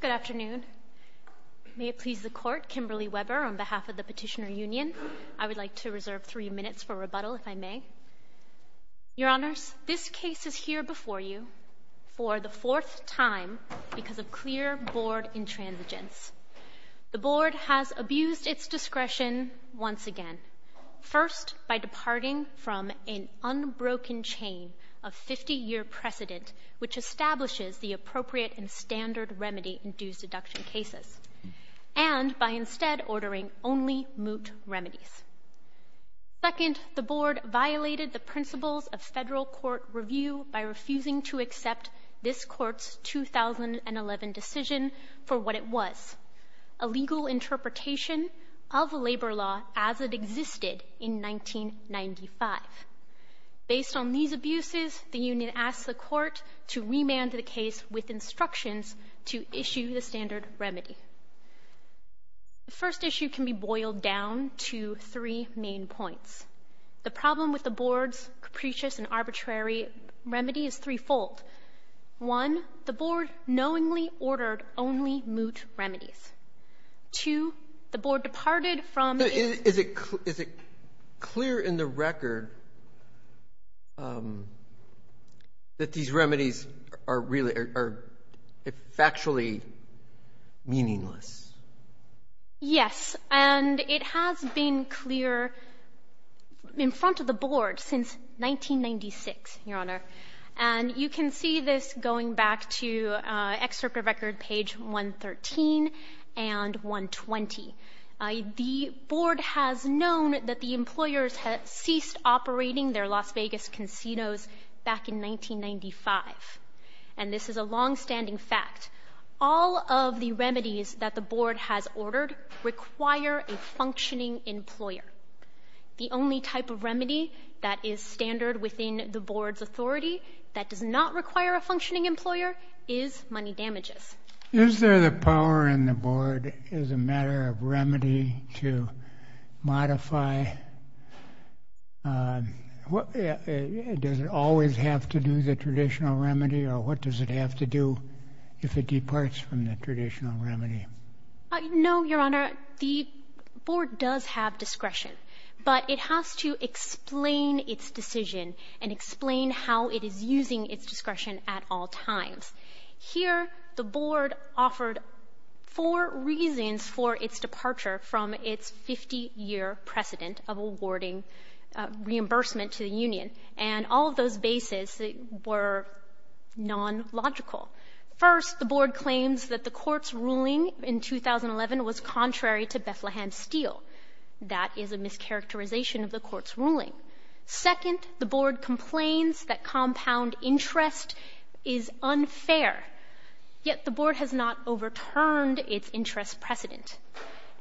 Good afternoon. May it please the Court, Kimberly Weber, on behalf of the Petitioner Union, I would like to reserve three minutes for rebuttal, if I may. Your Honors, this case is here before you for the fourth time because of clear Board intransigence. The Board has abused its discretion once again, first by departing from an unbroken chain of 50-year precedent which establishes the appropriate and standard remedy in dues deduction cases, and by instead ordering only moot remedies. Second, the Board violated the principles of federal court review by refusing to accept this Court's 2011 decision for what it was, a legal interpretation of labor law as it existed in 1995. Based on these abuses, the Court to remand the case with instructions to issue the standard remedy. The first issue can be boiled down to three main points. The problem with the Board's capricious and arbitrary remedy is threefold. One, the Board knowingly ordered only moot remedies. Two, the Board these remedies are factually meaningless. Yes, and it has been clear in front of the Board since 1996, Your Honor. And you can see this going back to excerpt of record page 113 and 120. The Board has known that the employers had ceased operating their Las Vegas casinos back in 1995. And this is a longstanding fact. All of the remedies that the Board has ordered require a functioning employer. The only type of remedy that is standard within the Board's authority that does not require a functioning employer is money damages. Is there the power in the Board as a matter of remedy to modify? Does it always have to do the traditional remedy, or what does it have to do if it departs from the traditional remedy? No, Your Honor. The Board does have discretion, but it has to explain its decision and explain how it is using its discretion at all times. Here, the Board offered four reasons for its departure from its 50-year precedent of awarding reimbursement to the union, and all of those bases were non-logical. First, the Board claims that the Court's ruling in 2011 was contrary to Bethlehem Steel. That is a mischaracterization of the Court's ruling. Second, the Board complains that compound interest is unfair, yet the Board has not overturned its interest precedent.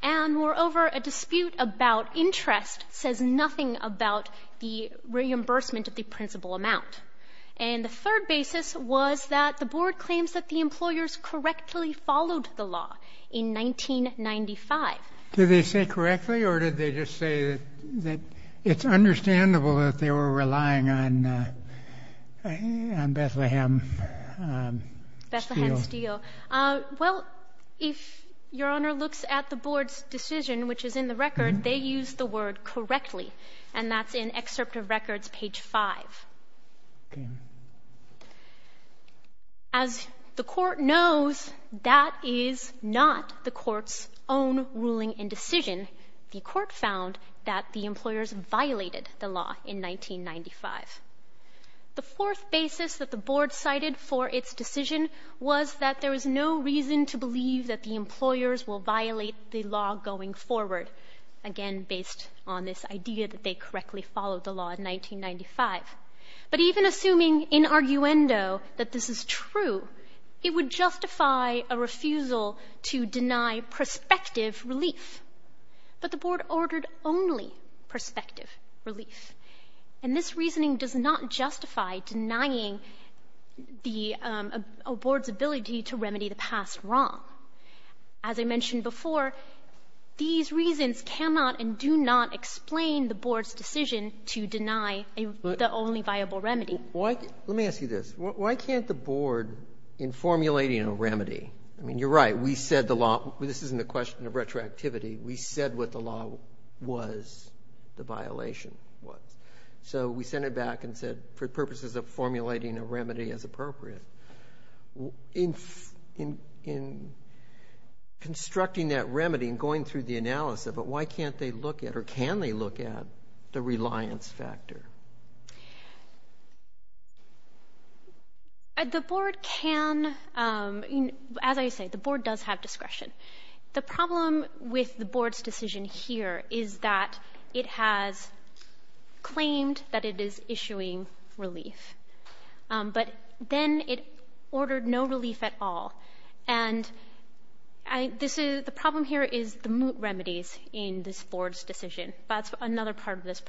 And moreover, a dispute about interest says nothing about the reimbursement of the principal amount. And the third basis was that the Board claims that the employers correctly followed the law in 1995. Did they say correctly, or did they just say that it's understandable that they were relying on Bethlehem Steel? Bethlehem Steel. Well, if Your Honor looks at the Board's decision, which is in the record, they used the word correctly, and that's in Excerpt of Records, page 5. As the Court knows, that is not the Court's own ruling and decision. The Court found that the employers violated the law in 1995. The fourth basis that the Board cited for its decision was that there is no reason to believe that the employers will violate the law going forward, again based on this idea that they correctly followed the law in 1995. But even assuming in arguendo that this is true, it would justify a refusal to deny prospective relief. But the Board ordered only prospective relief. And this reasoning does not justify denying the Board's ability to remedy the past wrong. As I mentioned before, these reasons cannot and do not explain the Board's decision to deny the only viable remedy. Let me ask you this. Why can't the Board, in formulating a remedy—I mean, you're right, we said the law—this isn't a question of retroactivity. We said what the law was, the violation was. So we sent it back and said, for purposes of formulating a remedy as appropriate, in constructing that remedy and going through the analysis of it, why can't they look at, or can they look at, the reliance factor? The Board can, as I say, the Board does have discretion. The problem with the Board's decision here is that it has claimed that it is issuing relief, but then it ordered no relief at all. And the problem here is the moot remedies in this Board's decision. That's another part of this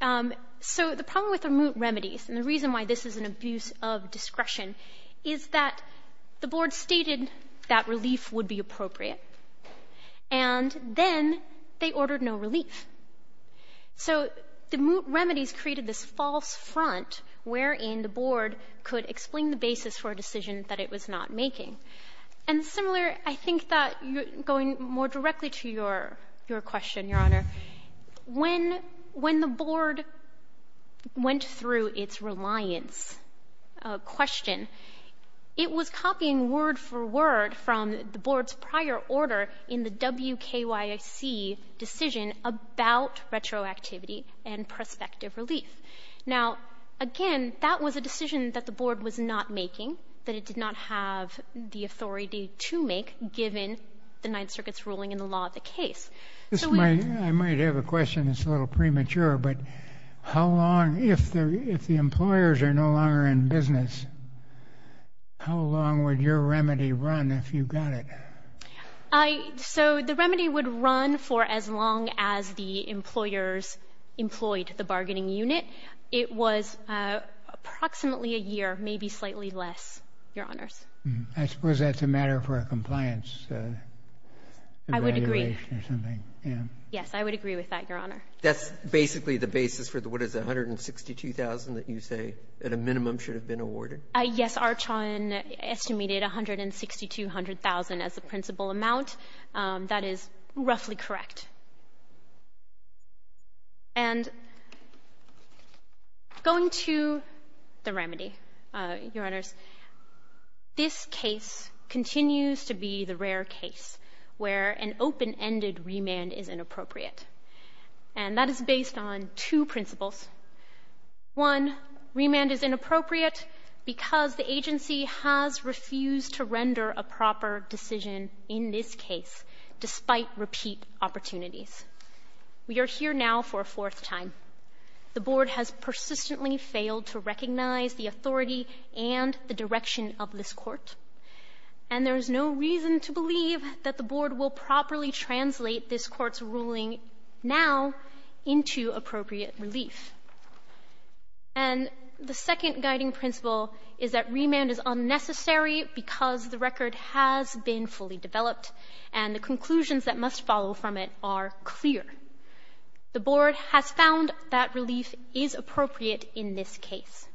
And the reason why this is an abuse of discretion is that the Board stated that relief would be appropriate, and then they ordered no relief. So the moot remedies created this false front wherein the Board could explain the basis for a decision that it was not making. And similar, I think that going more directly to your question, Your Honor, when the Board went through its reliance question, it was copying word for word from the Board's prior order in the WKYC decision about retroactivity and prospective relief. Now, again, that was a decision that the Board was not making, that it did not have the authority to make, given the Ninth Circuit's law of the case. I might have a question that's a little premature, but if the employers are no longer in business, how long would your remedy run if you got it? So the remedy would run for as long as the employers employed the bargaining unit. It was approximately a year, maybe slightly less, Your Honors. I suppose that's a matter for a compliance. I would agree. Yes, I would agree with that, Your Honor. That's basically the basis for what is $162,000 that you say at a minimum should have been awarded? Yes, Archon estimated $162,000 as the principal amount. That is roughly correct. And going to the remedy, Your Honors, this case continues to be the rare case where an open-ended remand is inappropriate, and that is based on two principles. One, remand is inappropriate because the agency has refused to render a proper decision in this case, despite repeat opportunities. We are here now for a fourth time. The Board has persistently failed to recognize the authority and the direction of this Court, and there is no reason to believe that the Board will properly translate this Court's ruling now into appropriate relief. And the second guiding principle is that remand is unnecessary because the record has been fully developed and the conclusions that must follow from it are clear. The Board has found that relief is appropriate in this case.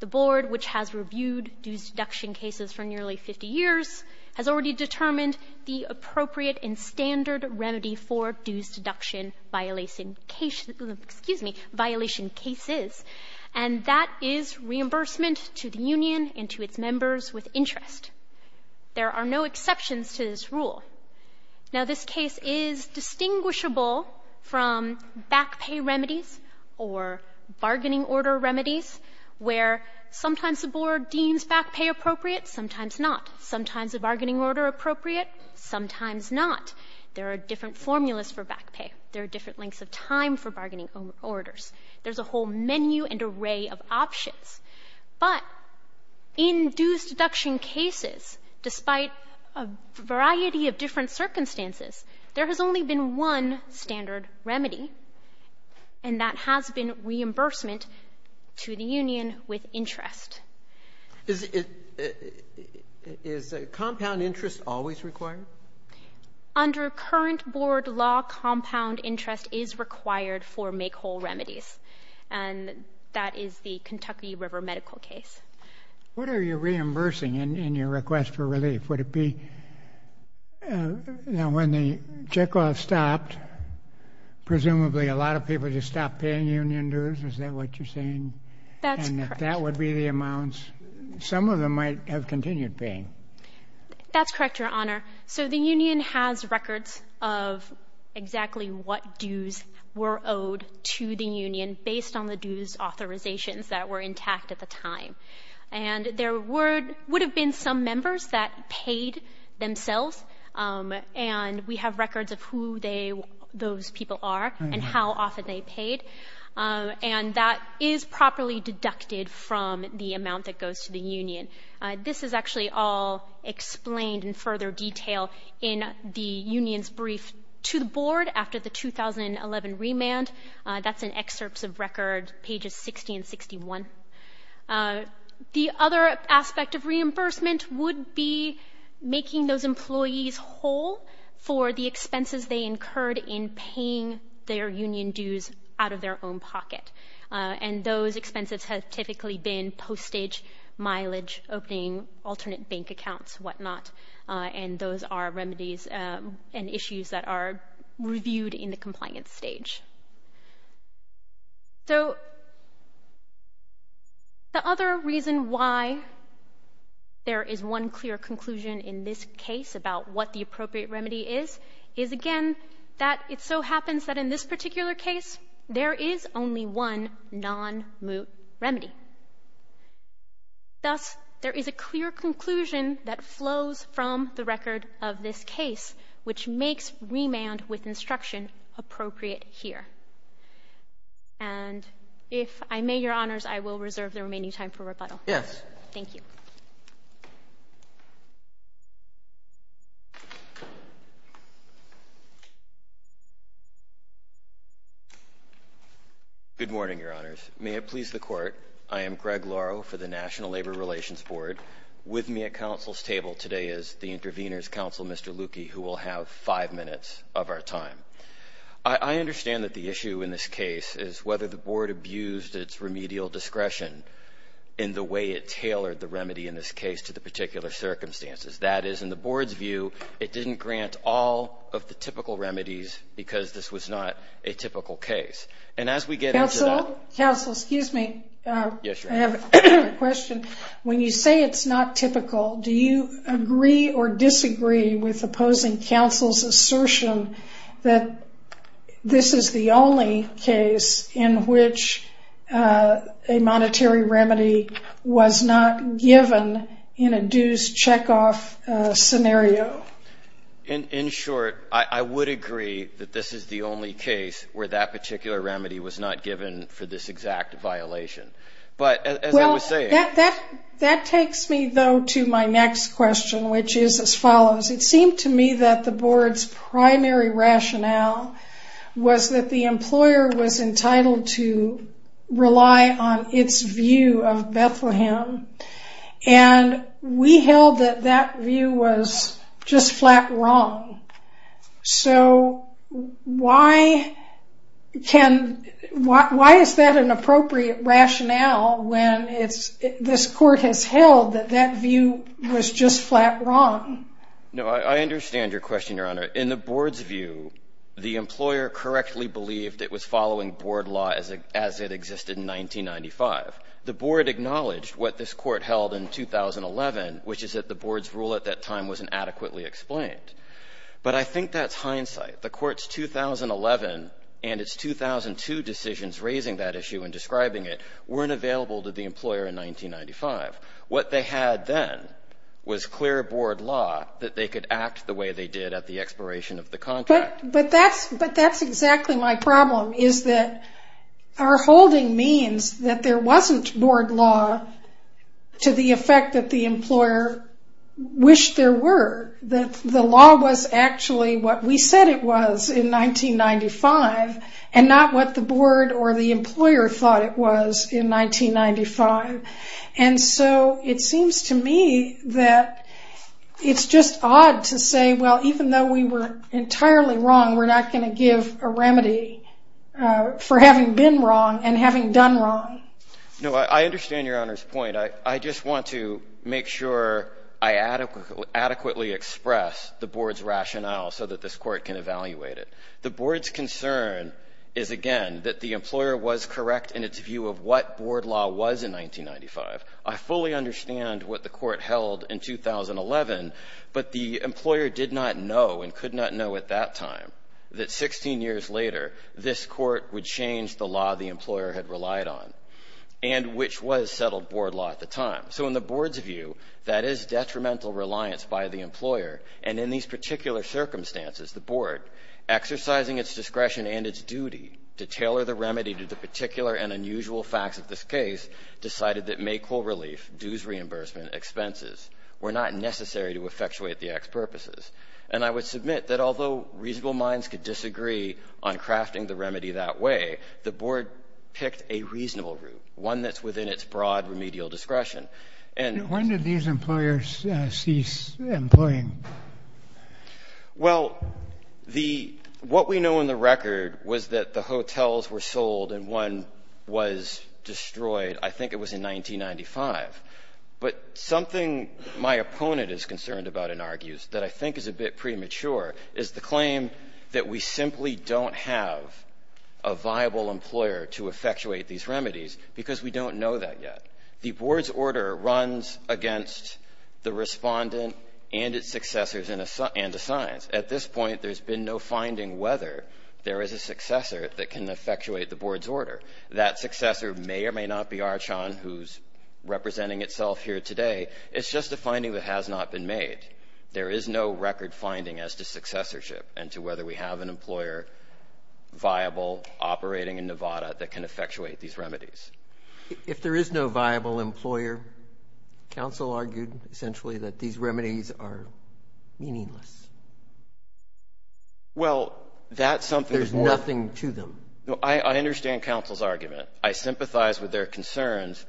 The Board, which has reviewed dues deduction cases for nearly 50 years, has already determined the appropriate and standard remedy for dues deduction violation case — excuse me, violation cases, and that is reimbursement to the union and to its members with interest. There are no exceptions to this rule. Now, this case is distinguishable from back pay remedies or bargaining order remedies, where sometimes the Board deems back pay appropriate, sometimes not. Sometimes a bargaining order appropriate, sometimes not. There are different formulas for back pay. There are different lengths of time for bargaining orders. There's a whole menu and array of options. But in dues deduction cases, despite a variety of different circumstances, there has only been one standard remedy, and that has been reimbursement to the union with interest. Is compound interest always required? Under current Board law, compound interest is required for make-whole remedies, and that is the Kentucky River medical case. What are you reimbursing in your request for relief? Would it be when the check-off stopped, presumably a lot of people just stopped paying union dues? Is some of them might have continued paying? That's correct, Your Honor. So the union has records of exactly what dues were owed to the union based on the dues authorizations that were intact at the time. And there would have been some members that paid themselves, and we have records of who those people are and how often they paid. And that is properly deducted from the amount that goes to the union. This is actually all explained in further detail in the union's brief to the Board after the 2011 remand. That's in excerpts of record pages 60 and 61. The other aspect of reimbursement would be making those employees whole for the expenses they incurred in paying their union dues out of their own pocket. And those expenses have typically been postage, mileage, opening alternate bank accounts, whatnot. And those are remedies and issues that are reviewed in the compliance stage. So the other reason why there is one clear conclusion in this case about what the appropriate remedy is, is again, that it so happens that in this particular case, there is only one non-moot remedy. Thus, there is a clear conclusion that flows from the record of this case, which makes remand with instruction appropriate here. And if I may, Your Honors, I will reserve the remaining time for rebuttal. Yes. Thank you. Good morning, Your Honors. May it please the Court, I am Greg Lauro for the National Labor Relations Board. With me at counsel's table today is the intervener's counsel, Mr. Lucchi, who will have five minutes of our time. I understand that the issue in this case is whether the Board abused its remedial discretion in the way it tailored the remedy in this case to the particular circumstances. That is, in the Board's view, it didn't grant all of the typical remedies because this was not a typical case. And as we get into that... Counsel, excuse me. Yes, Your Honor. I have a question. When you say it's not typical, do you agree or disagree with opposing counsel's assertion that this is the only case in which a monetary remedy was not given in a dues check-off scenario? In short, I would agree that this is the only case where that particular remedy was not given for this exact violation. But as I was saying... Well, that takes me though to my next question, which is as follows. It seemed to me that the Board's primary rationale was that the employer was entitled to rely on its view of Bethlehem. And we held that that view was just flat wrong. So why is that an appropriate rationale when this Court has held that that view was just flat wrong? No, I understand your question, Your Honor. In the Board's view, the employer correctly believed it was following Board law as it existed in 1995. The Board acknowledged what this Court held in 2011, which is that the Board's rule at that time wasn't adequately explained. But I think that's hindsight. The Court's 2011 and its 2002 decisions raising that issue and describing it weren't available to the employer in 1995. What they had then was clear Board law that they could act the way they did at the expiration of the contract. But that's exactly my problem, is that our holding means that there wasn't Board law to the effect that the employer wished there were. That the law was actually what we said it was in 1995, and not what the Board or the employer thought it was in 1995. And so it seems to me that it's just odd to say, well, even though we were wrong, and having done wrong. No, I understand Your Honor's point. I just want to make sure I adequately express the Board's rationale so that this Court can evaluate it. The Board's concern is, again, that the employer was correct in its view of what Board law was in 1995. I fully understand what the Court held in 2011, but the employer did not know and could not know at that time that 16 years later, this Court would change the law the employer had relied on, and which was settled Board law at the time. So in the Board's view, that is detrimental reliance by the employer. And in these particular circumstances, the Board, exercising its discretion and its duty to tailor the remedy to the particular and unusual facts of this case, decided that May coal relief, dues reimbursement, expenses were not necessary to effectuate the Act's purposes. And I would submit that although reasonable minds could remedy that way, the Board picked a reasonable route, one that's within its broad remedial discretion. When did these employers cease employing? Well, what we know in the record was that the hotels were sold and one was destroyed, I think it was in 1995. But something my opponent is concerned about and argues that I think is a bit premature is the claim that we simply don't have a viable employer to effectuate these remedies because we don't know that yet. The Board's order runs against the respondent and its successors and assigns. At this point, there's been no finding whether there is a successor that can effectuate the Board's order. That successor may or may not be Archan, who's representing itself here today. It's just a finding that has not been viable operating in Nevada that can effectuate these remedies. If there is no viable employer, counsel argued essentially that these remedies are meaningless. Well, that's something. There's nothing to them. I understand counsel's argument. I sympathize with their concerns.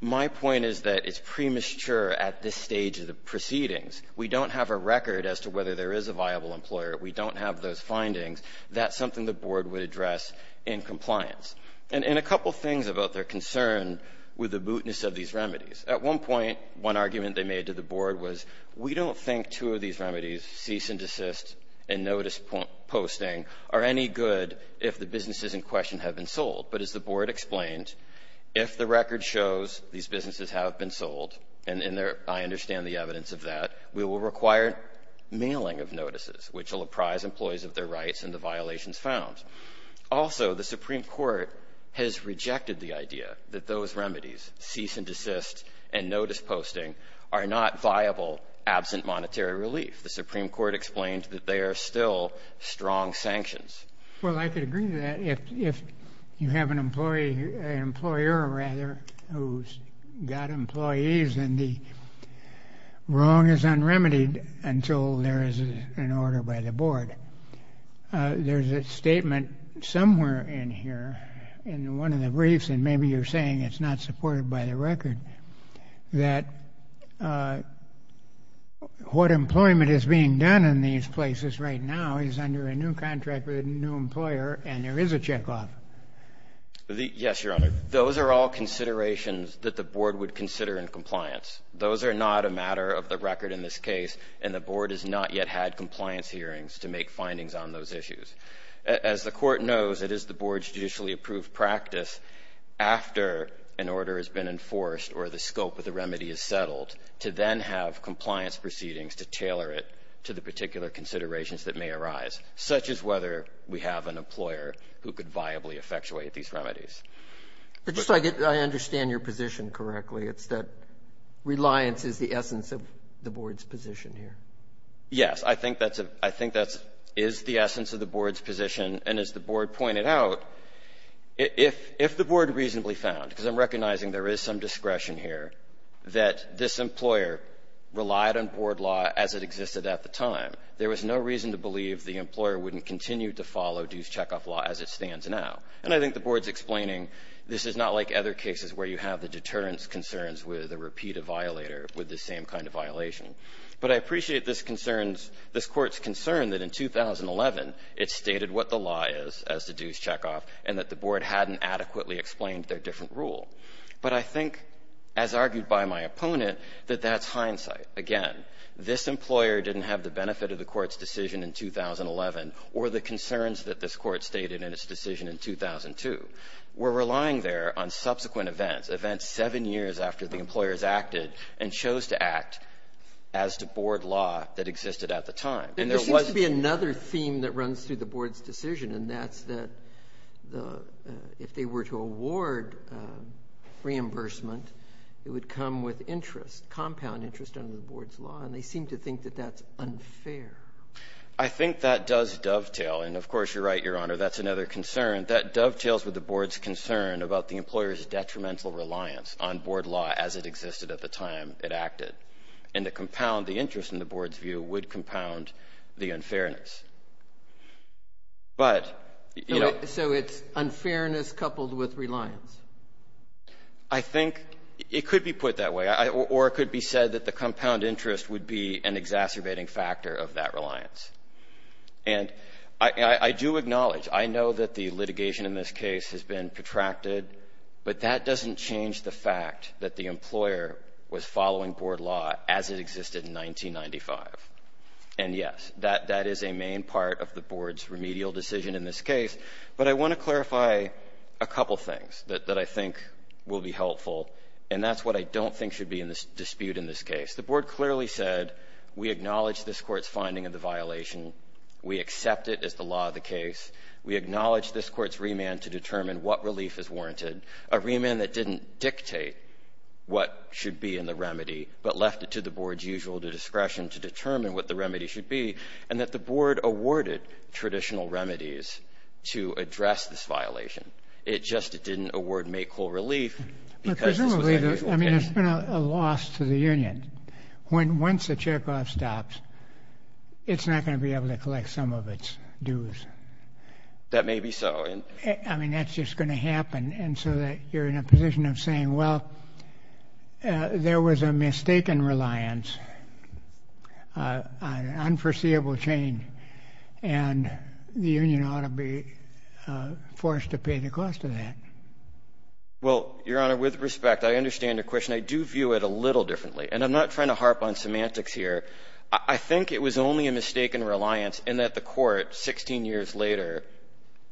My point is that it's premature at this stage of the proceedings. We don't have a record as to whether there is a viable employer. We don't have those findings. That's something the Board would address in compliance. And a couple things about their concern with the mootness of these remedies. At one point, one argument they made to the Board was we don't think two of these remedies, cease and desist and notice posting, are any good if the businesses in question have been sold. But as the Board explained, if the record shows these businesses have been sold, and I understand the evidence of that, we will require mailing of violations found. Also, the Supreme Court has rejected the idea that those remedies, cease and desist and notice posting, are not viable absent monetary relief. The Supreme Court explained that they are still strong sanctions. Well, I could agree to that if you have an employer who's got employees and the wrong is unremitied until there is an order by the Board. There's a statement somewhere in here, in one of the briefs, and maybe you're saying it's not supported by the record, that what employment is being done in these places right now is under a new contract with a new employer and there is a checkoff. Yes, Your Honor. Those are all considerations that the Board would consider in compliance. Those are not a matter of the record in this case, and the Board has not yet had compliance hearings to make findings on those issues. As the Court knows, it is the Board's judicially approved practice, after an order has been enforced or the scope of the remedy is settled, to then have compliance proceedings to tailor it to the particular considerations that may arise, such as whether we have an employer who could viably effectuate these remedies. But just so I understand your position correctly, it's that reliance is the essence of the Board's position here. Yes, I think that is the essence of the Board's position, and as the Board pointed out, if the Board reasonably found, because I'm recognizing there is some discretion here, that this employer relied on Board law as it existed at the time, there was no reason to believe the employer wouldn't continue to follow dues checkoff law as it stands now. And I think the Board's explaining this is not like other cases where you have the deterrence concerns with a repeat of violator with the same kind of violation. But I appreciate this concern's, this Court's concern that in 2011, it stated what the law is as to dues checkoff, and that the Board hadn't adequately explained their different rule. But I think, as argued by my opponent, that that's hindsight. Again, this employer didn't have the benefit of the Court's decision in 2011 or the concerns that this Court stated in its decision in 2002. We're relying there on subsequent events, events seven years after the employers acted and chose to act as to Board law that existed at the time. And there seems to be another theme that runs through the Board's decision, and that's that if they were to award reimbursement, it would come with interest, compound interest, under the Board's law, and they seem to think that that's unfair. I think that does dovetail. And, of course, you're right, Your Honor, that's another concern. That dovetails with the Board's concern about the employer's detrimental reliance on Board law as it existed at the time it acted. And to compound the interest, in the Board's view, would compound the unfairness. But, you know — So it's unfairness coupled with reliance? I think it could be put that way. Or it could be said that the compound interest would be an exacerbating factor of that reliance. And I do acknowledge, I know that the litigation in this case has been protracted, but that doesn't change the fact that the employer was following Board law as it existed in 1995. And, yes, that is a main part of the Board's remedial decision in this case, but I want to clarify a couple things that I think will be helpful, and that's what I don't think should be in this dispute in this case. The Board clearly said, we acknowledge this Court's finding of the violation, we accept it as the law of the case, we acknowledge this Court's remand to determine what relief is warranted, a remand that didn't dictate what should be in the remedy, but left it to the Board's usual discretion to determine what the remedy should be, and that the Board awarded traditional remedies to address this violation. It just didn't award make whole relief because this was a legal case. I mean, it's been a loss to the union. Once the checkoff stops, it's not going to be able to collect some of its dues. That may be so. I mean, that's just going to happen. And so that you're in a position of saying, well, there was a mistaken reliance, an unforeseeable change, and the union ought to be forced to pay the cost of that. Well, Your Honor, with respect, I understand your question. I do view it a little differently, and I'm not trying to harp on semantics here. I think it was only a mistaken reliance in that the Court, 16 years later,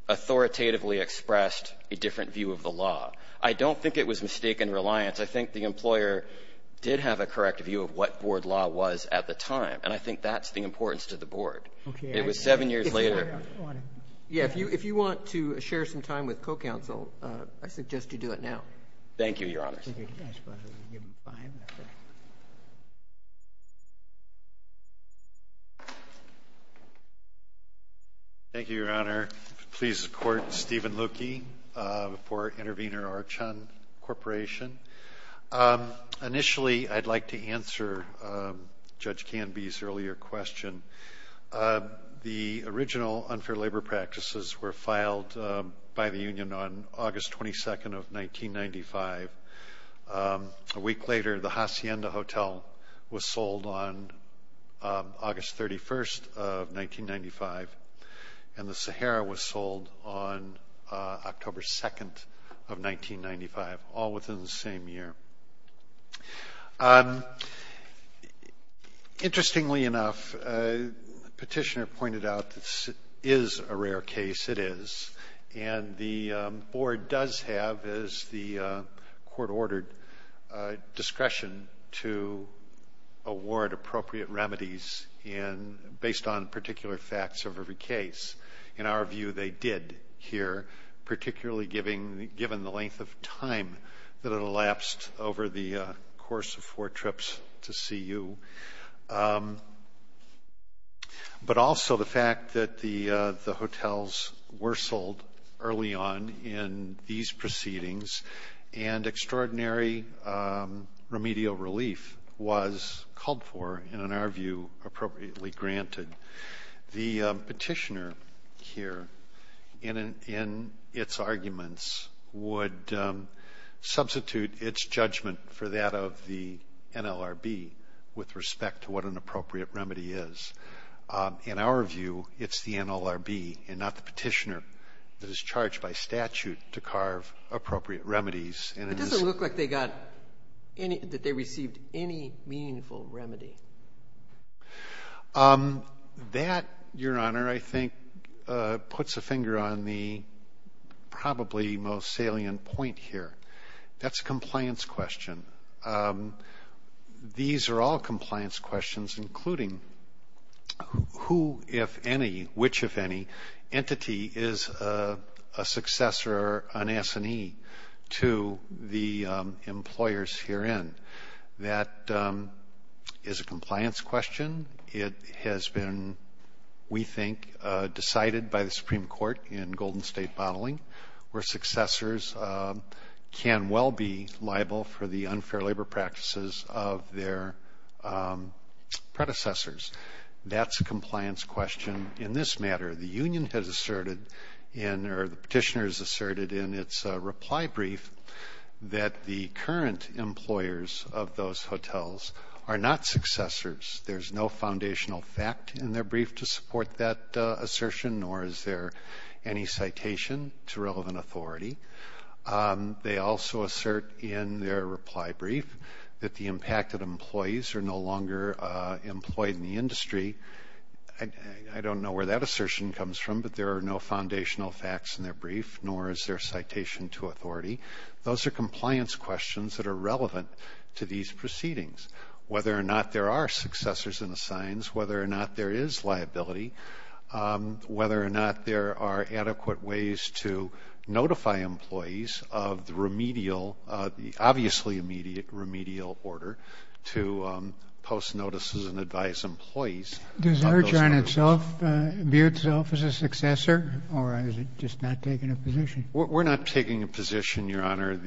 authoritatively expressed a different view of the law. I don't think it was mistaken reliance. I think the employer did have a correct view of what Board law was at the time, and I think that's the importance to the Board. It was seven years later. Yeah, if you want to share some time with co-counsel, I suggest you do it now. Thank you, Your Honor. Thank you, Your Honor. Please support Stephen Lukey for Intervenor Archon Corporation. Initially, I'd like to answer Judge Canby's earlier question. The original unfair labor practices were filed by the union on August 22nd of 1995. A week later, the Hacienda Hotel was sold on August 31st of 1995, and the Sahara was sold on October 2nd of 1995, all within the same year. Interestingly enough, the petitioner pointed out this is a rare case. It is, and the Board does have, as the Court ordered, discretion to award appropriate remedies based on particular facts of every case. In our view, they did here, particularly given the length of time that it elapsed over the course of four trips to see you, but also the fact that the hotels were sold early on in these proceedings, and extraordinary remedial relief was called for and, in our view, appropriately granted. The petitioner here, in its arguments, would substitute its judgment for that of the NLRB with respect to what an appropriate remedy is. In our view, it's the NLRB and not the petitioner that is charged by statute to carve appropriate remedies. It doesn't look like they received any meaningful remedy. That, Your Honor, I think puts a finger on the probably most salient point here. That's a compliance question. These are all compliance questions, including who, if any, which, if any, entity is a successor or an S&E to the employers herein. That is a compliance question. It has been, we think, decided by the Supreme Court in Golden State bottling, where successors can well be liable for the unfair labor practices of their predecessors. That's a compliance question. In this matter, the union has asserted in, or the petitioner has asserted in its reply brief that the current employers of those hotels are not successors. There's no foundational fact in their brief to support that assertion, nor is there any citation to relevant authority. They also assert in their reply brief that the employed in the industry, I don't know where that assertion comes from, but there are no foundational facts in their brief, nor is there citation to authority. Those are compliance questions that are relevant to these proceedings. Whether or not there are successors in the signs, whether or not there is liability, whether or not there are adequate ways to notify employees of the remedial, the obviously remedial order to post notices and advise employees. Does Archon itself view itself as a successor, or is it just not taking a position? We're not taking a position, Your Honor.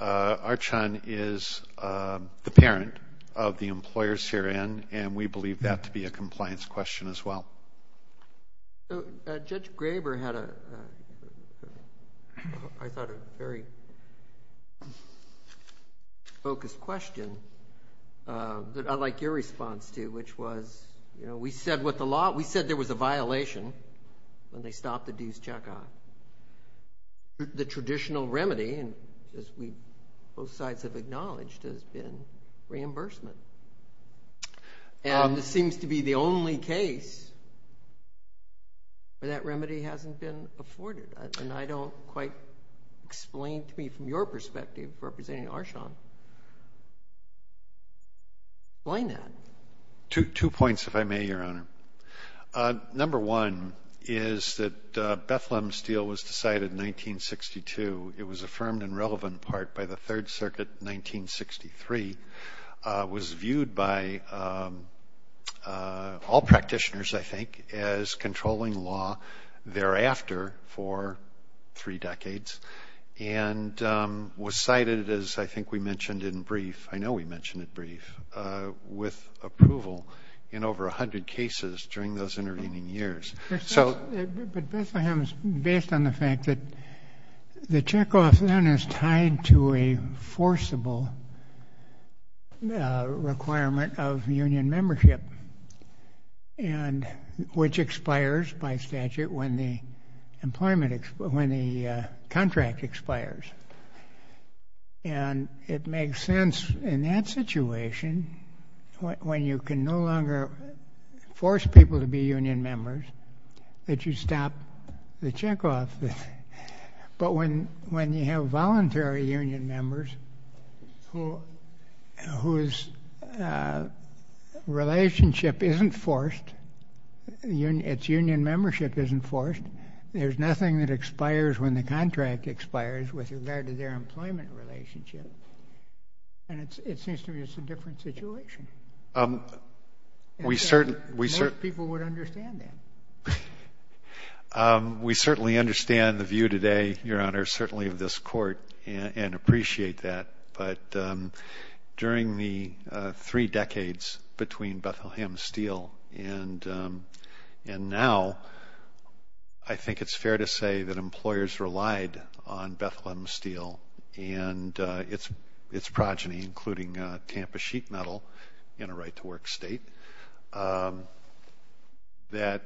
Archon is the parent of the employers herein, and we believe that to be a compliance question as well. So Judge Graber had a, I thought, a very focused question that I like your response to, which was, you know, we said with the law, we said there was a violation when they stopped the dues check on. The traditional remedy, and as we both sides have acknowledged, has been reimbursement. And this seems to be the only case where that remedy hasn't been afforded. And I don't quite explain to me from your perspective, representing Archon, why not? Two points, if I may, Your Honor. Number one is that Bethlehem's deal was decided in 1962. It was affirmed in relevant part by the Third Circuit in 1963. It was viewed by all practitioners, I think, as controlling law thereafter for three decades, and was cited, as I think we mentioned in brief, I know we mentioned it brief, with approval in over 100 cases during those intervening years. But Bethlehem's based on the fact that the checkoff then is tied to a forcible requirement of union membership, which expires by statute when the employment, when the contract expires. And it makes sense in that situation, when you can no longer force people to be union members, that you stop the checkoff. But when you have voluntary union members whose relationship isn't forced, its union membership isn't forced, there's nothing that expires when the contract expires with regard to their employment relationship. And it seems to me it's a different situation. Most people would understand that. We certainly understand the view today, Your Honor, certainly of this court, and appreciate that. But during the three decades between Bethlehem's deal and now, I think it's fair to say that employers relied on Bethlehem's deal and its progeny, including Tampa Sheet Metal, in a right-to-work state, that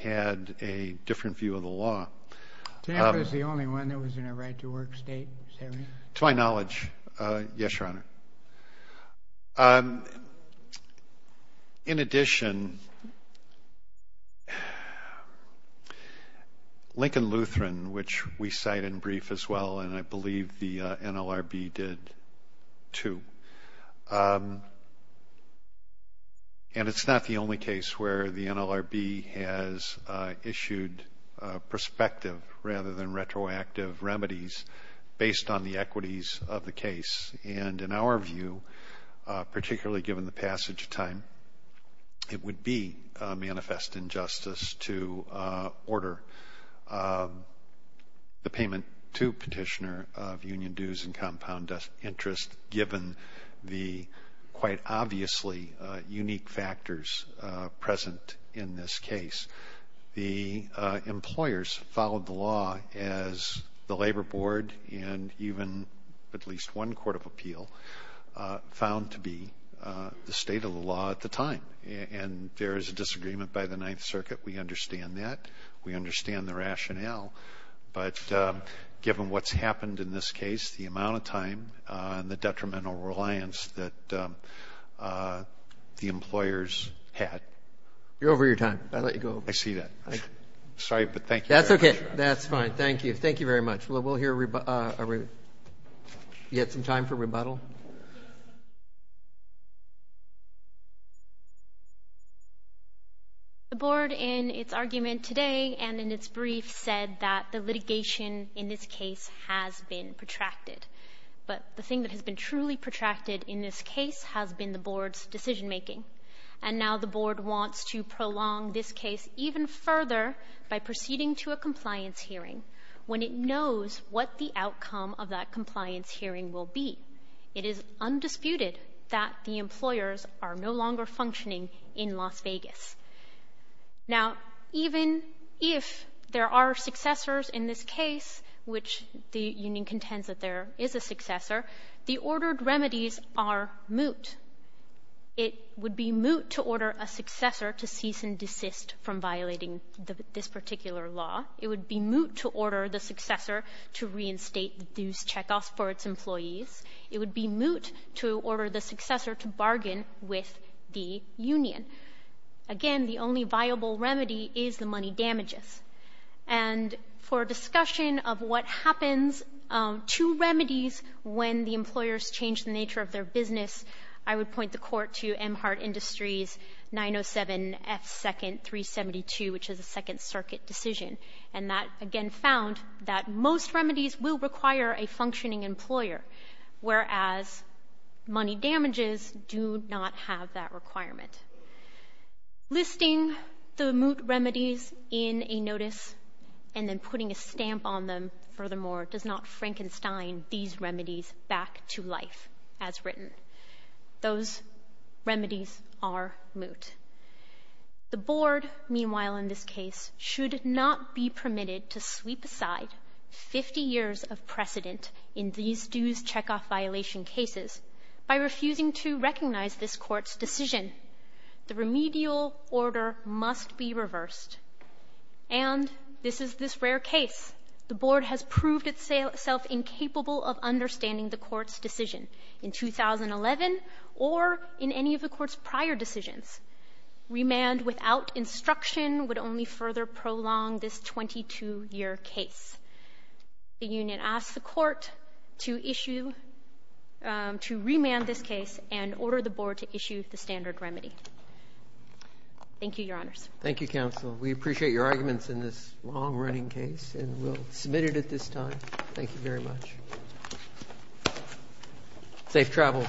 had a different view of the law. Tampa is the only one that was in a right-to-work state, is that right? To my knowledge, yes, Your Honor. In addition, Lincoln Lutheran, which we cite in brief as well, and I believe the NLRB did too, and it's not the only case where the NLRB has issued perspective rather than retroactive remedies based on the equities of the case. And in our view, particularly given the passage of time, it would be a manifest injustice to order the payment to petitioner of union dues and compound interest given the quite obviously unique factors present in this case. The Labor Board and even at least one court of appeal found to be the state of the law at the time. And there is a disagreement by the Ninth Circuit. We understand that. We understand the rationale. But given what's happened in this case, the amount of time and the detrimental reliance that the employers had. You're over your time. I let you go. I see that. Sorry, but thank you. That's okay. That's fine. Thank you. Thank you very much. Well, we'll hear yet some time for rebuttal. The board in its argument today and in its brief said that the litigation in this case has been protracted. But the thing that has been truly protracted in this case has been the board's And now the board wants to prolong this case even further by proceeding to a compliance hearing when it knows what the outcome of that compliance hearing will be. It is undisputed that the employers are no longer functioning in Las Vegas. Now, even if there are successors in this case, which the union contends that there is a successor, the ordered remedies are moot. It would be moot to order a successor to cease and desist from violating this particular law. It would be moot to order the successor to reinstate the dues checkoffs for its employees. It would be moot to order the successor to bargain with the union. Again, the only viable remedy is the money damages. And for discussion of what happens to remedies when the employers change the nature of their business, I would point the court to Emhart Industries 907 F. 2nd. 372, which is a second circuit decision. And that, again, found that most remedies will require a functioning employer, whereas money damages do not have that requirement. Listing the moot remedies in a notice and then putting a stamp on them, furthermore, does not Frankenstein these remedies back to life as written. Those remedies are moot. The board, meanwhile, in this case, should not be permitted to sweep aside 50 years of precedent in these dues checkoff violation cases by refusing to recognize this court's decision. The remedial order must be reversed. And this is this rare case. The board has proved itself incapable of understanding the court's decision in 2011 or in any of the court's prior decisions. Remand without instruction would only further prolong this 22-year case. The union asks the board to approve the remedy. Thank you, Your Honors. Thank you, counsel. We appreciate your arguments in this long-running case, and we'll submit it at this time. Thank you very much. Safe travels back.